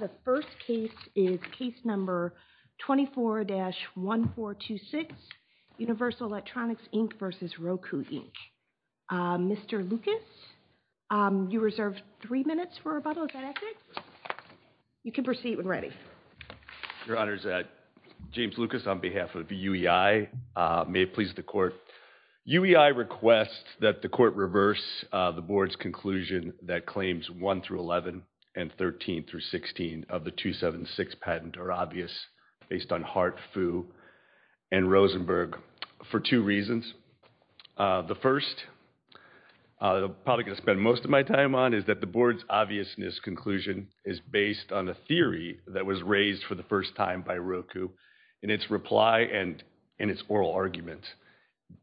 The first case is Case No. 24-1426, Universal Electronics, Inc. v. Roku, Inc. Mr. Lucas, you reserve three minutes for rebuttal, is that okay? You can proceed when ready. Your Honor, James Lucas on behalf of UEI, may it please the Court, UEI requests that the Court reverse the Board's conclusion that Claims 1-11 and 13-16 of the 276 patent are obvious based on Hart, Fu, and Rosenberg for two reasons. The first, probably going to spend most of my time on, is that the Board's obviousness conclusion is based on a theory that was raised for the first time by Roku in its reply and in its oral argument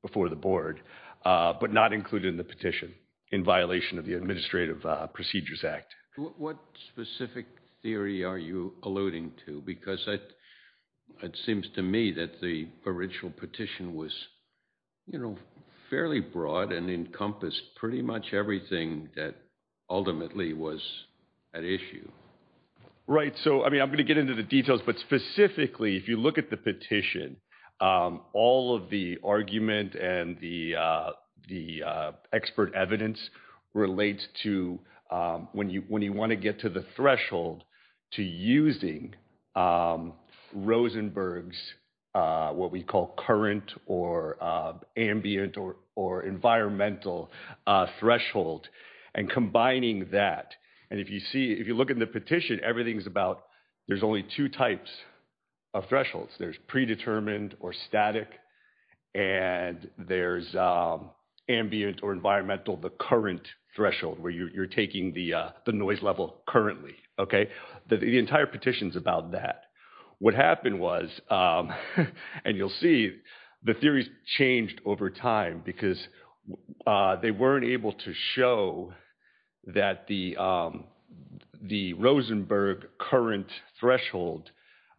before the Board, but not included in the petition in violation of the Administrative Procedures Act. What specific theory are you alluding to? Because it seems to me that the original petition was, you know, fairly broad and encompassed pretty much everything that ultimately was at issue. Right, so I mean, I'm going to get into the details, but specifically, if you look at the petition, all of the argument and the expert evidence relates to, when you want to get to the threshold to using Rosenberg's, what we call current or ambient or environmental threshold, and combining that, and if you see, if you look at the petition, everything is about, there's only two types of thresholds. There's predetermined or static, and there's ambient or environmental, the current threshold where you're taking the noise level currently, okay, the entire petition is about that. What happened was, and you'll see, the theories changed over time because they weren't able to show that the Rosenberg current threshold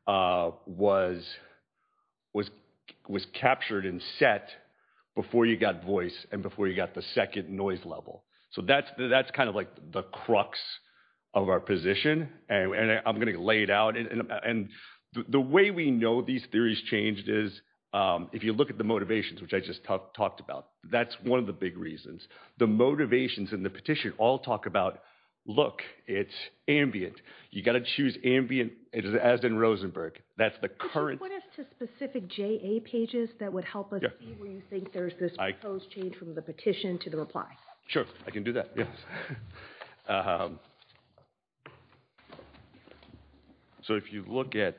was captured and set before you got voice and before you got the second noise level. So that's kind of like the crux of our position, and I'm going to lay it out, and the way we know these theories changed is, if you look at the motivations, which I just talked about, that's one of the big reasons. The motivations in the petition all talk about, look, it's ambient. You got to choose ambient, as in Rosenberg, that's the current. Could you put us to specific JA pages that would help us see where you think there's this proposed change from the petition to the reply? Sure, I can do that, yes. So if you look at,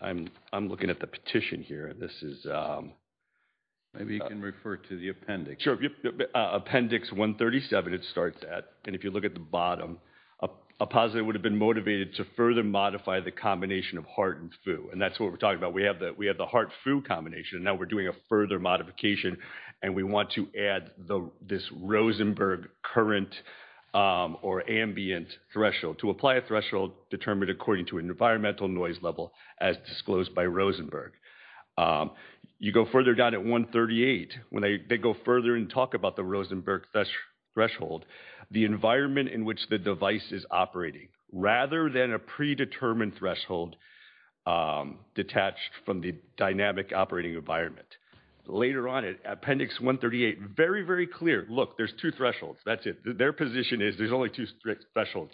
I'm looking at the petition here. This is, maybe you can refer to the appendix. Sure, appendix 137, it starts at, and if you look at the bottom, a positive would have been motivated to further modify the combination of heart and foo, and that's what we're talking about. We have the heart-foo combination, and now we're doing a further modification, and we want to add this Rosenberg current or ambient threshold, to apply a threshold determined according to an environmental noise level, as disclosed by Rosenberg. You go further down at 138, when they go further and talk about the Rosenberg threshold, the environment in which the device is operating, rather than a predetermined threshold detached from the dynamic operating environment. Later on, appendix 138, very, very clear, look, there's two thresholds, that's it. Their position is there's only two strict thresholds,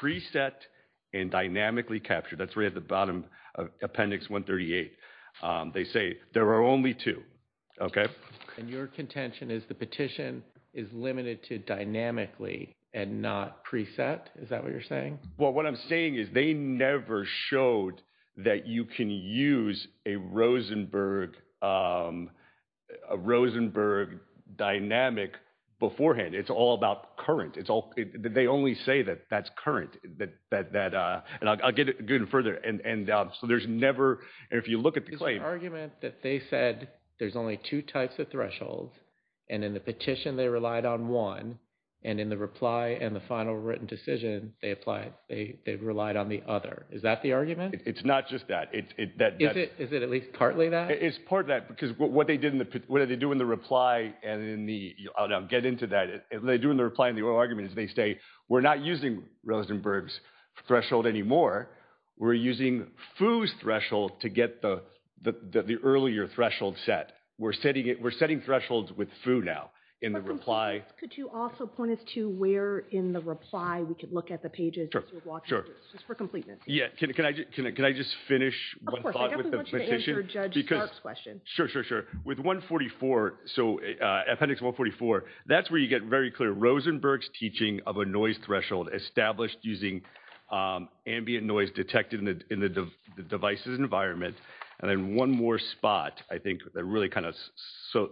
preset and dynamically captured. That's right at the bottom of appendix 138. They say there are only two, okay? And your contention is the petition is limited to dynamically and not preset? Is that what you're saying? Well, what I'm saying is they never showed that you can use a Rosenberg dynamic beforehand. It's all about current. They only say that that's current, and I'll get into it further, and so there's never, if you look at the claim. There's an argument that they said there's only two types of thresholds, and in the petition they relied on one, and in the reply and the final written decision, they relied on the other. Is that the argument? It's not just that. Is it at least partly that? It's part of that, because what they do in the reply and in the, I'll get into that. What they do in the reply and the oral argument is they say we're not using Rosenberg's threshold anymore. We're using Foo's threshold to get the earlier threshold set. We're setting thresholds with Foo now in the reply. Could you also point us to where in the reply we could look at the pages just for completeness? Yeah, can I just finish one thought with the petition? I definitely want you to answer Judge Stark's question. Sure, sure, sure. With 144, so Appendix 144, that's where you get very clear Rosenberg's teaching of a noise threshold established using ambient noise detected in the device's environment, and then one more spot, I think, that really kind of, so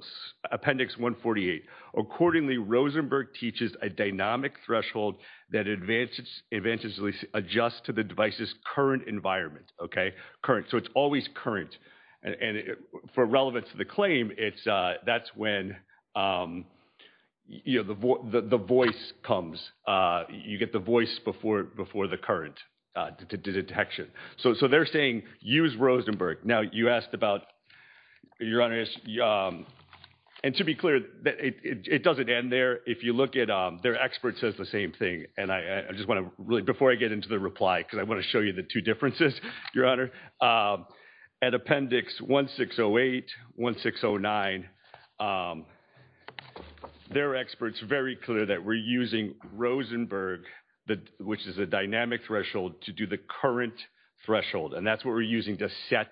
Appendix 148, accordingly Rosenberg teaches a dynamic threshold that advantageously adjusts to the device's current environment, okay? So it's always current, and for relevance to the claim, that's when the voice comes. You get the voice before the current detection. So they're saying use Rosenberg. Now you asked about, Your Honor, and to be clear, it doesn't end there. If you look at, their expert says the same thing, and I just want to really, before I get into the reply, because I want to show you the two differences, Your Honor. At Appendix 1608, 1609, their expert's very clear that we're using Rosenberg, which is a dynamic threshold, to do the current threshold, and that's what we're using to set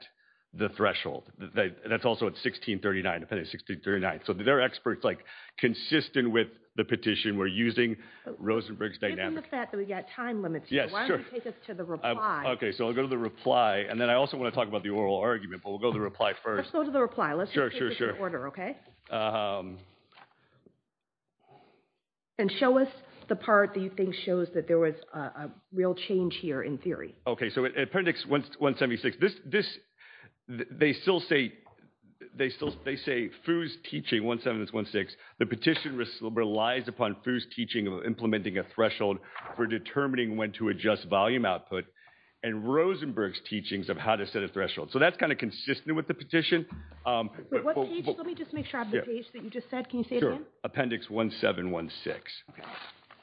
the threshold. That's also at 1639, Appendix 1639. So their expert's like consistent with the petition, we're using Rosenberg's dynamic threshold. Given the fact that we've got time limits here, why don't you take us to the reply. Okay, so I'll go to the reply, and then I also want to talk about the oral argument, but we'll go to the reply first. Let's go to the reply. Let's just take this in order, okay? And show us the part that you think shows that there was a real change here in theory. Okay, so Appendix 176, this, they still say, they say Foo's teaching, 176, the petition relies upon Foo's teaching of implementing a threshold for determining when to adjust volume output, and Rosenberg's teachings of how to set a threshold. So that's kind of consistent with the petition. Wait, what page? Let me just make sure I have the page that you just said, can you say it again? Sure. Appendix 1716.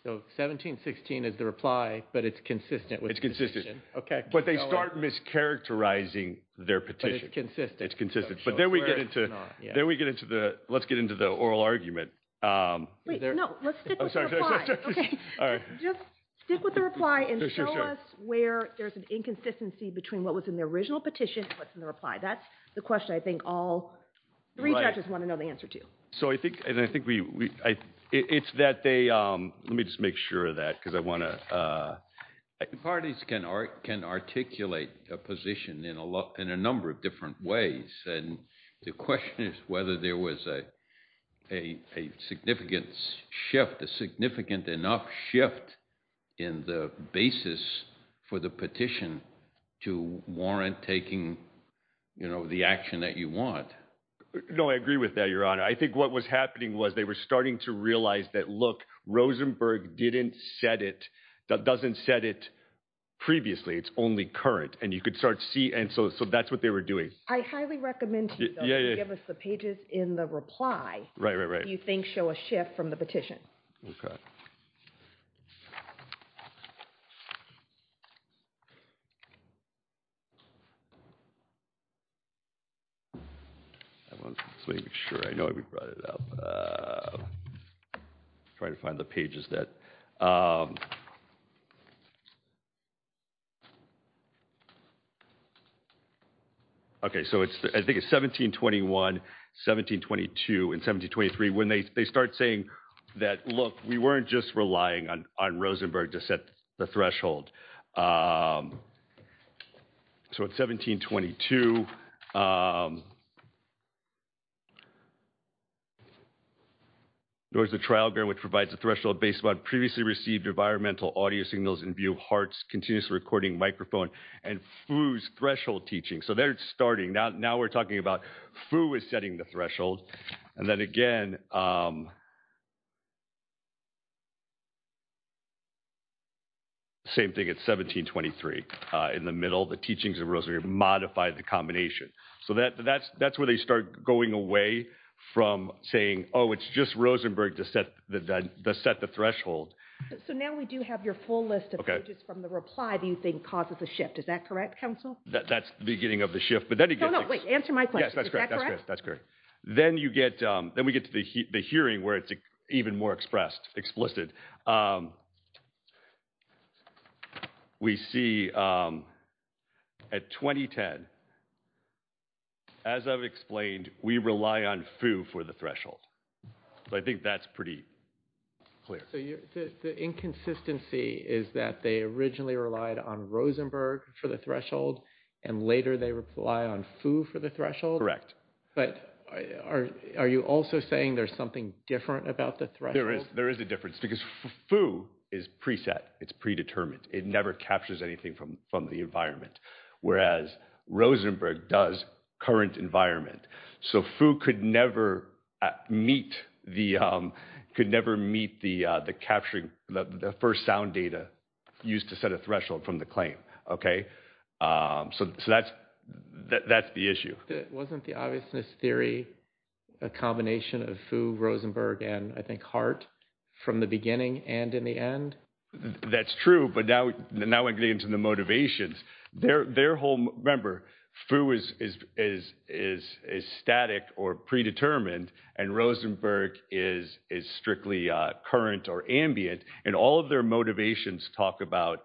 So 1716 is the reply, but it's consistent with the petition. It's consistent. Okay. But they start mischaracterizing their petition. But it's consistent. It's consistent. But then we get into, then we get into the, let's get into the oral argument. Wait, no. Let's stick with the reply. Okay. All right. Just stick with the reply and show us where there's an inconsistency between what was in the original petition and what's in the reply. That's the question I think all three judges want to know the answer to. So I think, and I think we, it's that they, let me just make sure of that because I want to. I think parties can articulate a position in a number of different ways, and the question is whether there was a, a, a significant shift, a significant enough shift in the basis for the petition to warrant taking, you know, the action that you want. No, I agree with that, your Honor. I think what was happening was they were starting to realize that, look, Rosenberg didn't set it, that doesn't set it previously. It's only current and you could start see. And so, so that's what they were doing. I highly recommend you give us the pages in the reply. Right, right, right. If you think show a shift from the petition. I want to make sure I know where we brought it up. Trying to find the pages that. Okay, so it's, I think it's 1721, 1722 and 1723 when they, they start saying that, look, we weren't just relying on, on Rosenberg to set the threshold. So, at 1722, there was a trial which provides a threshold based on previously received environmental audio signals in view of Hart's continuous recording microphone and Fu's threshold teaching. So, there it's starting. Now, now we're talking about Fu is setting the threshold. And then again, same thing at 1723 in the middle, the teachings of Rosenberg modified the combination. So, that, that's, that's where they start going away from saying, oh, it's just Rosenberg to set the, set the threshold. So, now we do have your full list of pages from the reply that you think causes a shift. Is that correct, counsel? That's the beginning of the shift. But then again. No, no, wait, answer my question. Is that correct? That's correct. Then you get, then we get to the hearing where it's even more expressed, explicit. We see at 2010, as I've explained, we rely on Fu for the threshold. So, I think that's pretty clear. So, the inconsistency is that they originally relied on Rosenberg for the threshold and later they rely on Fu for the threshold? Correct. But are you also saying there's something different about the threshold? There is a difference because Fu is preset. It's predetermined. It never captures anything from the environment. Whereas Rosenberg does current environment. So, Fu could never meet the, could never meet the capturing, the first sound data used to set a threshold from the claim. Okay. So, that's, that's the issue. Wasn't the obviousness theory a combination of Fu, Rosenberg, and I think Hart from the beginning and in the end? That's true. But now we're getting into the motivations. Their whole, remember, Fu is static or predetermined and Rosenberg is strictly current or ambient. And all of their motivations talk about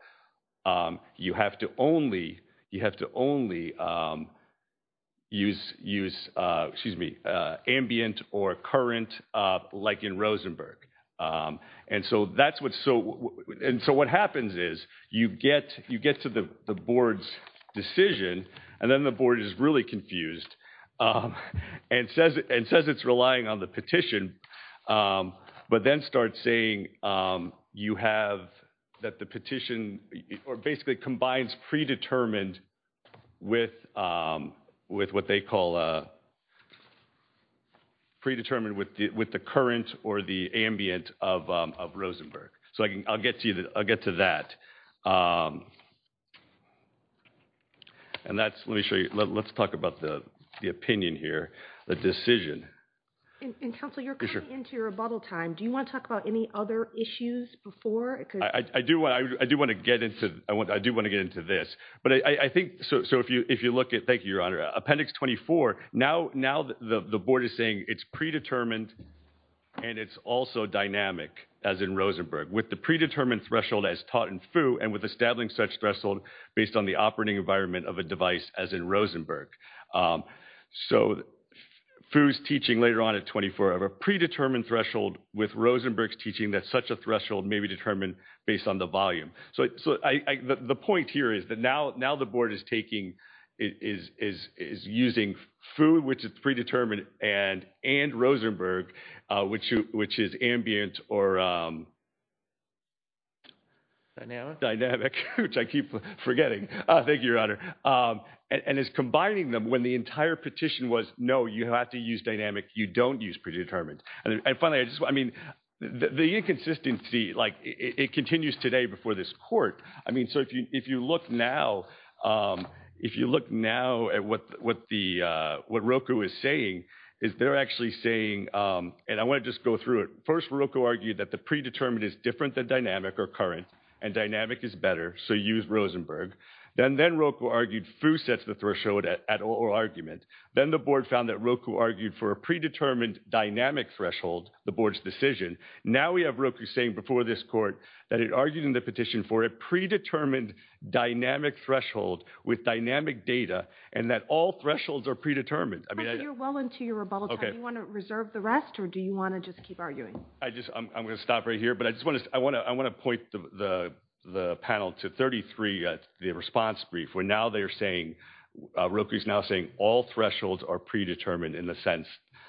you have to only, you have to only use, use, excuse me, ambient or current like in Rosenberg. And so, that's what, so, and so what happens is you get, you get to the board's decision and then the board is really confused and says, and says it's relying on the petition. But then starts saying you have, that the petition or basically combines predetermined with, with what they call a predetermined with the current or the ambient of Rosenberg. So, I'll get to you, I'll get to that. And that's, let me show you, let's talk about the opinion here, the decision. And counsel, you're coming into your rebuttal time. Do you want to talk about any other issues before? I do, I do want to get into, I do want to get into this. But I think, so, so if you, if you look at, thank you, Your Honor, Appendix 24, now, now the board is saying it's predetermined and it's also dynamic as in Rosenberg with the predetermined threshold as taught in Fu and with establishing such threshold based on the operating environment of a device as in Rosenberg. So, Fu's teaching later on at 24, I have a predetermined threshold with Rosenberg's teaching that such a threshold may be determined based on the volume. So, so I, the point here is that now, now the board is taking, is, is, is using Fu, which is predetermined and, and Rosenberg, which, which is ambient or dynamic, which I keep forgetting. Thank you, Your Honor. And is combining them when the entire petition was, no, you have to use dynamic, you don't use predetermined. And finally, I just, I mean, the inconsistency, like it continues today before this court. I mean, so if you, if you look now, if you look now at what, what the, what Roku is saying is they're actually saying, and I want to just go through it. First, Roku argued that the predetermined is different than dynamic or current, and dynamic is better. So, use Rosenberg. Then, then Roku argued Fu sets the threshold at, at all argument. Then, the board found that Roku argued for a predetermined dynamic threshold, the board's decision. Now, we have Roku saying before this court that it argued in the petition for a predetermined dynamic threshold with dynamic data, and that all thresholds are predetermined. I mean. You're well into your rebuttal time. Okay. Do you want to reserve the rest, or do you want to just keep arguing? I just, I'm, I'm going to stop right here, but I just want to, I want to, I want to point the, the, the panel to 33, the response brief, where now they're saying, Roku's now saying all thresholds are predetermined in the sense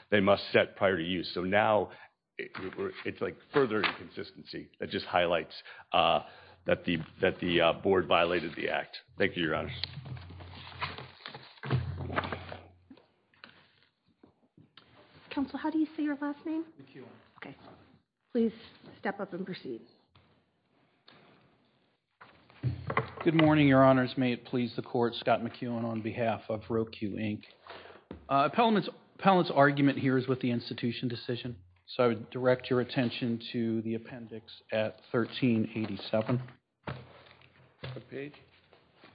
they must set prior to use. So, now, it's like further inconsistency that just highlights that the, that the board violated the act. Thank you, Your Honor. Counsel, how do you say your last name? Thank you. Okay. Please step up and proceed. Good morning, Your Honors. May it please the court. Scott McKeown on behalf of Roku, Inc. Appellant's, appellant's argument here is with the institution decision. So, I would direct your attention to the appendix at 1387. What page?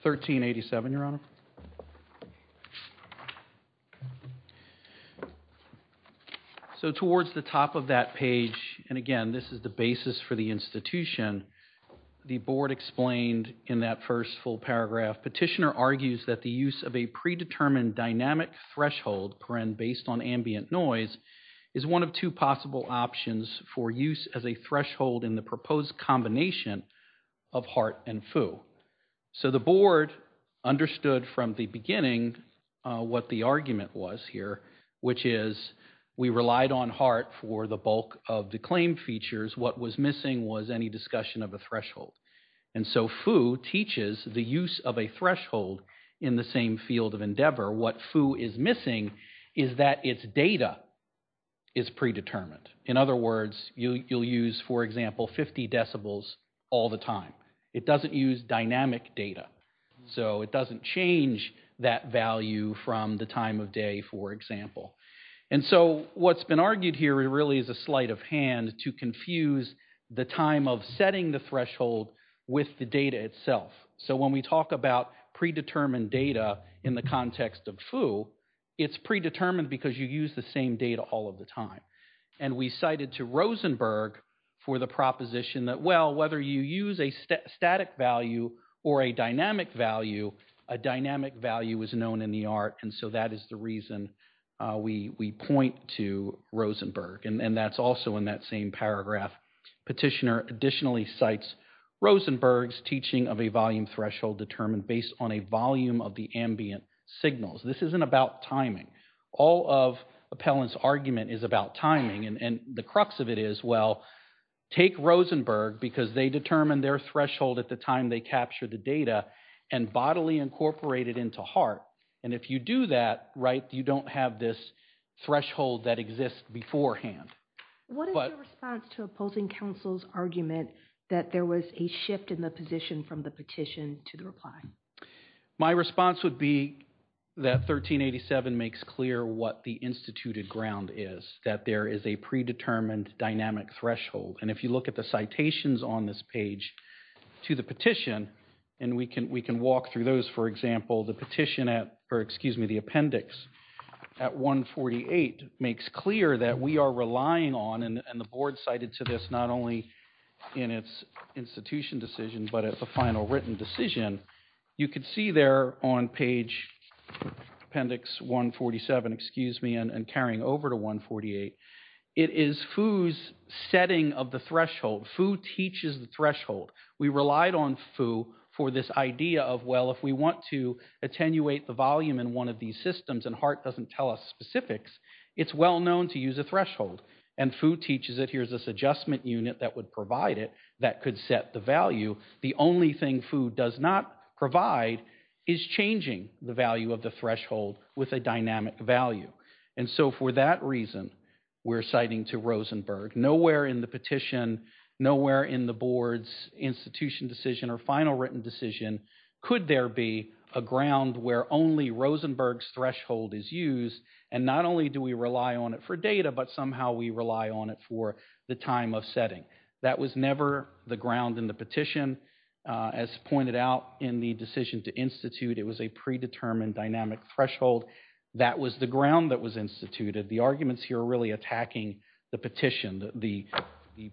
1387, Your Honor. So, towards the top of that page, and again, this is the basis for the institution, the board explained in that first full paragraph, petitioner argues that the use of a predetermined dynamic threshold, per end, based on ambient noise, is one of two possible options for use as a threshold in the proposed combination of HART and FU. So, the board understood from the beginning what the argument was here, which is we relied on HART for the bulk of the claim features. What was missing was any discussion of a threshold. And so, FU teaches the use of a threshold in the same field of endeavor. What FU is missing is that its data is predetermined. In other words, you'll use, for example, 50 decibels all the time. It doesn't use dynamic data. So, it doesn't change that value from the time of day, for example. And so, what's been argued here really is a sleight of hand to confuse the time of setting the threshold with the data itself. So, when we talk about predetermined data in the context of FU, it's predetermined because you use the same data all of the time. And we cited to Rosenberg for the proposition that, well, whether you use a static value or a dynamic value, a dynamic value is known in the ART. And so, that is the reason we point to Rosenberg. And that's also in that same paragraph. Petitioner additionally cites Rosenberg's teaching of a volume threshold determined based on a volume of the ambient signals. This isn't about timing. All of Appellant's argument is about timing. And the crux of it is, well, take Rosenberg, because they determine their threshold at the time they capture the data, and bodily incorporate it into HART. And if you do that, right, you don't have this threshold that exists beforehand. What is your response to opposing counsel's argument that there was a shift in the position from the petition to the reply? My response would be that 1387 makes clear what the instituted ground is, that there is a predetermined dynamic threshold. And if you look at the citations on this page to the petition, and we can walk through those. For example, the petition at – or excuse me, the appendix at 148 makes clear that we are relying on, and the board cited to this not only in its institution decision, but at the final written decision, you can see there on page, appendix 147, excuse me, and carrying over to 148, it is FU's setting of the threshold. FU teaches the threshold. We relied on FU for this idea of, well, if we want to attenuate the volume in one of these systems, and HART doesn't tell us specifics, it's well known to use a threshold. And FU teaches it. Here's this adjustment unit that would provide it that could set the value. The only thing FU does not provide is changing the value of the threshold with a dynamic value. And so for that reason, we're citing to Rosenberg. Nowhere in the petition, nowhere in the board's institution decision or final written decision could there be a ground where only Rosenberg's threshold is used, and not only do we rely on it for data, but somehow we rely on it for the time of setting. That was never the ground in the petition. As pointed out in the decision to institute, it was a predetermined dynamic threshold. That was the ground that was instituted. The arguments here are really attacking the petition. The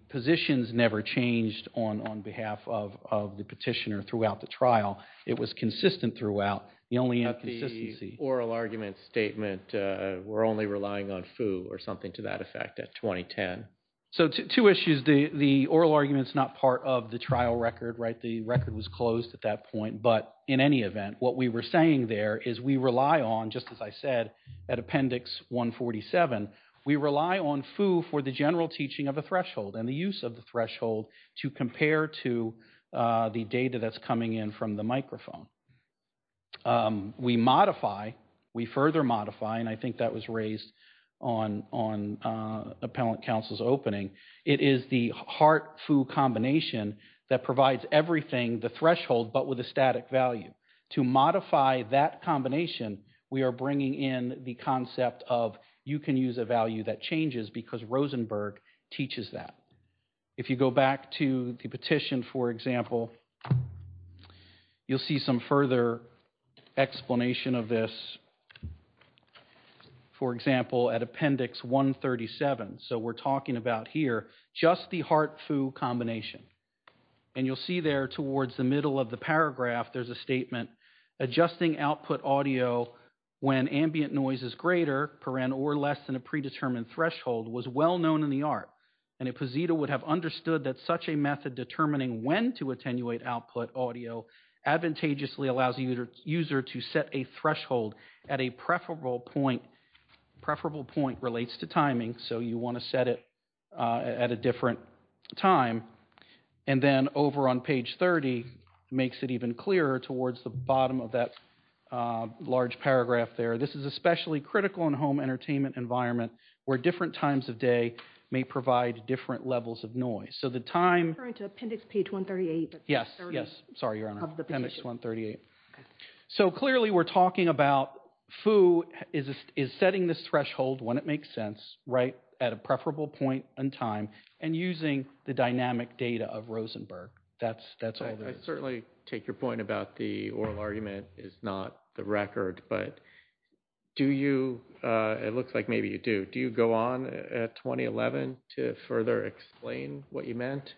positions never changed on behalf of the petitioner throughout the trial. It was consistent throughout. The only inconsistency— But the oral argument statement, we're only relying on FU or something to that effect at 2010. So two issues. The oral argument is not part of the trial record. The record was closed at that point. But in any event, what we were saying there is we rely on, just as I said, at Appendix 147, we rely on FU for the general teaching of a threshold and the use of the threshold to compare to the data that's coming in from the microphone. We modify, we further modify, and I think that was raised on Appellant Counsel's opening. It is the HART-FU combination that provides everything, the threshold, but with a static value. To modify that combination, we are bringing in the concept of you can use a value that changes because Rosenberg teaches that. If you go back to the petition, for example, you'll see some further explanation of this. For example, at Appendix 137. So we're talking about here just the HART-FU combination. And you'll see there towards the middle of the paragraph, there's a statement. Adjusting output audio when ambient noise is greater or less than a predetermined threshold was well known in the HART. And Ipposito would have understood that such a method determining when to attenuate output audio advantageously allows the user to set a threshold at a preferable point. Preferable point relates to timing, so you want to set it at a different time. And then over on page 30, it makes it even clearer towards the bottom of that large paragraph there. This is especially critical in a home entertainment environment where different times of day may provide different levels of noise. So the time... I'm referring to Appendix page 138. Yes, yes. Sorry, Your Honor. Appendix 138. So clearly we're talking about FU is setting this threshold when it makes sense, right, at a preferable point in time and using the dynamic data of Rosenberg. That's all there is. I certainly take your point about the oral argument is not the record, but do you... It looks like maybe you do. Do you go on at 2011 to further explain what you meant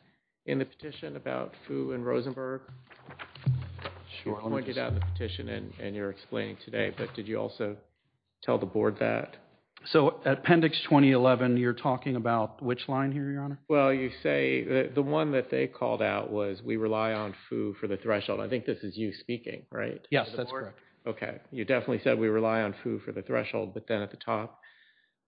in the petition about FU and Rosenberg? You pointed out the petition and you're explaining today, but did you also tell the board that? So Appendix 2011, you're talking about which line here, Your Honor? Well, you say the one that they called out was we rely on FU for the threshold. I think this is you speaking, right? Yes, that's correct. Okay. You definitely said we rely on FU for the threshold, but then at the top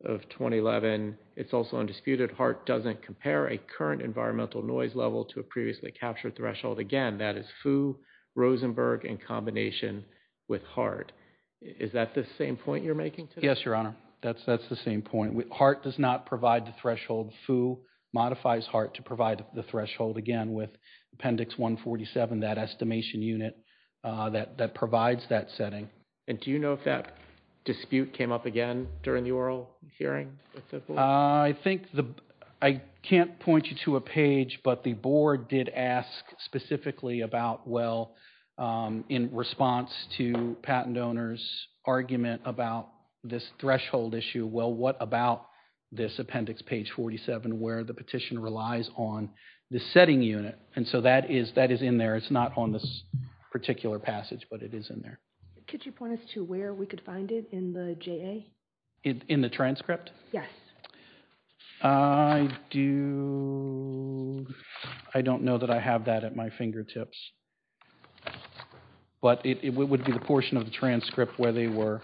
of 2011, it's also undisputed. HART doesn't compare a current environmental noise level to a previously captured threshold. Again, that is FU, Rosenberg in combination with HART. Is that the same point you're making? Yes, Your Honor. That's the same point. HART does not provide the threshold. FU modifies HART to provide the threshold, again, with Appendix 147, that estimation unit that provides that setting. And do you know if that dispute came up again during the oral hearing with the board? I think the—I can't point you to a page, but the board did ask specifically about, well, in response to patent owners' argument about this threshold issue, well, what about this appendix, page 47, where the petition relies on the setting unit? And so that is in there. It's not on this particular passage, but it is in there. Could you point us to where we could find it in the JA? In the transcript? Yes. I do—I don't know that I have that at my fingertips, but it would be the portion of the transcript where they were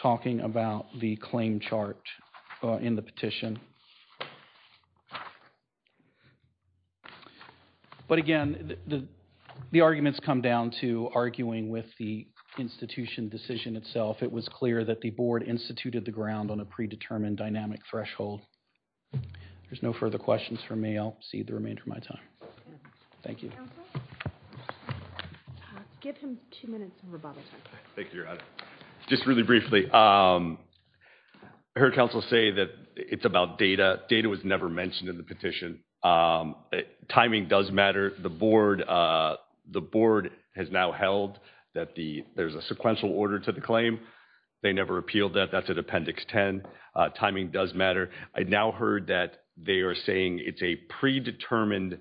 talking about the claim chart in the petition. But again, the arguments come down to arguing with the institution decision itself. It was clear that the board instituted the ground on a predetermined dynamic threshold. There's no further questions from me. I'll cede the remainder of my time. Thank you. Give him two minutes of rebuttal time. Thank you, Your Honor. Just really briefly, I heard counsel say that it's about data. Data was never mentioned in the petition. Timing does matter. The board has now held that there's a sequential order to the claim. They never appealed that. That's at Appendix 10. Timing does matter. I now heard that they are saying it's a predetermined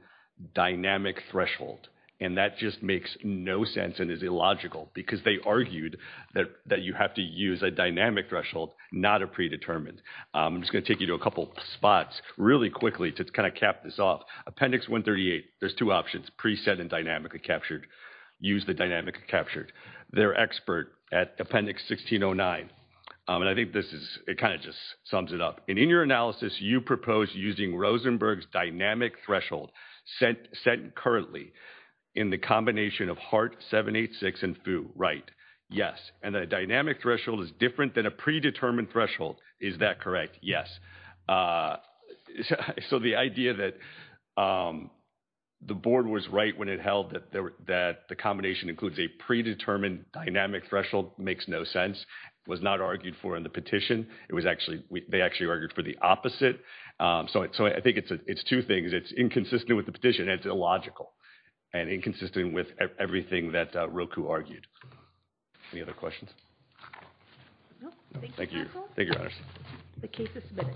dynamic threshold, and that just makes no sense and is illogical because they argued that you have to use a dynamic threshold, not a predetermined. I'm just going to take you to a couple spots really quickly to kind of cap this off. Appendix 138, there's two options, preset and dynamically captured. Use the dynamically captured. They're expert at Appendix 1609. And I think this is – it kind of just sums it up. And in your analysis, you propose using Rosenberg's dynamic threshold set currently in the combination of Hart 786 and Foo. Right. Yes. And the dynamic threshold is different than a predetermined threshold. Is that correct? Yes. So the idea that the board was right when it held that the combination includes a predetermined dynamic threshold makes no sense, was not argued for in the petition. It was actually – they actually argued for the opposite. So I think it's two things. It's inconsistent with the petition, and it's illogical and inconsistent with everything that Roku argued. Any other questions? No. Thank you. Thank you, Your Honors. The case is submitted.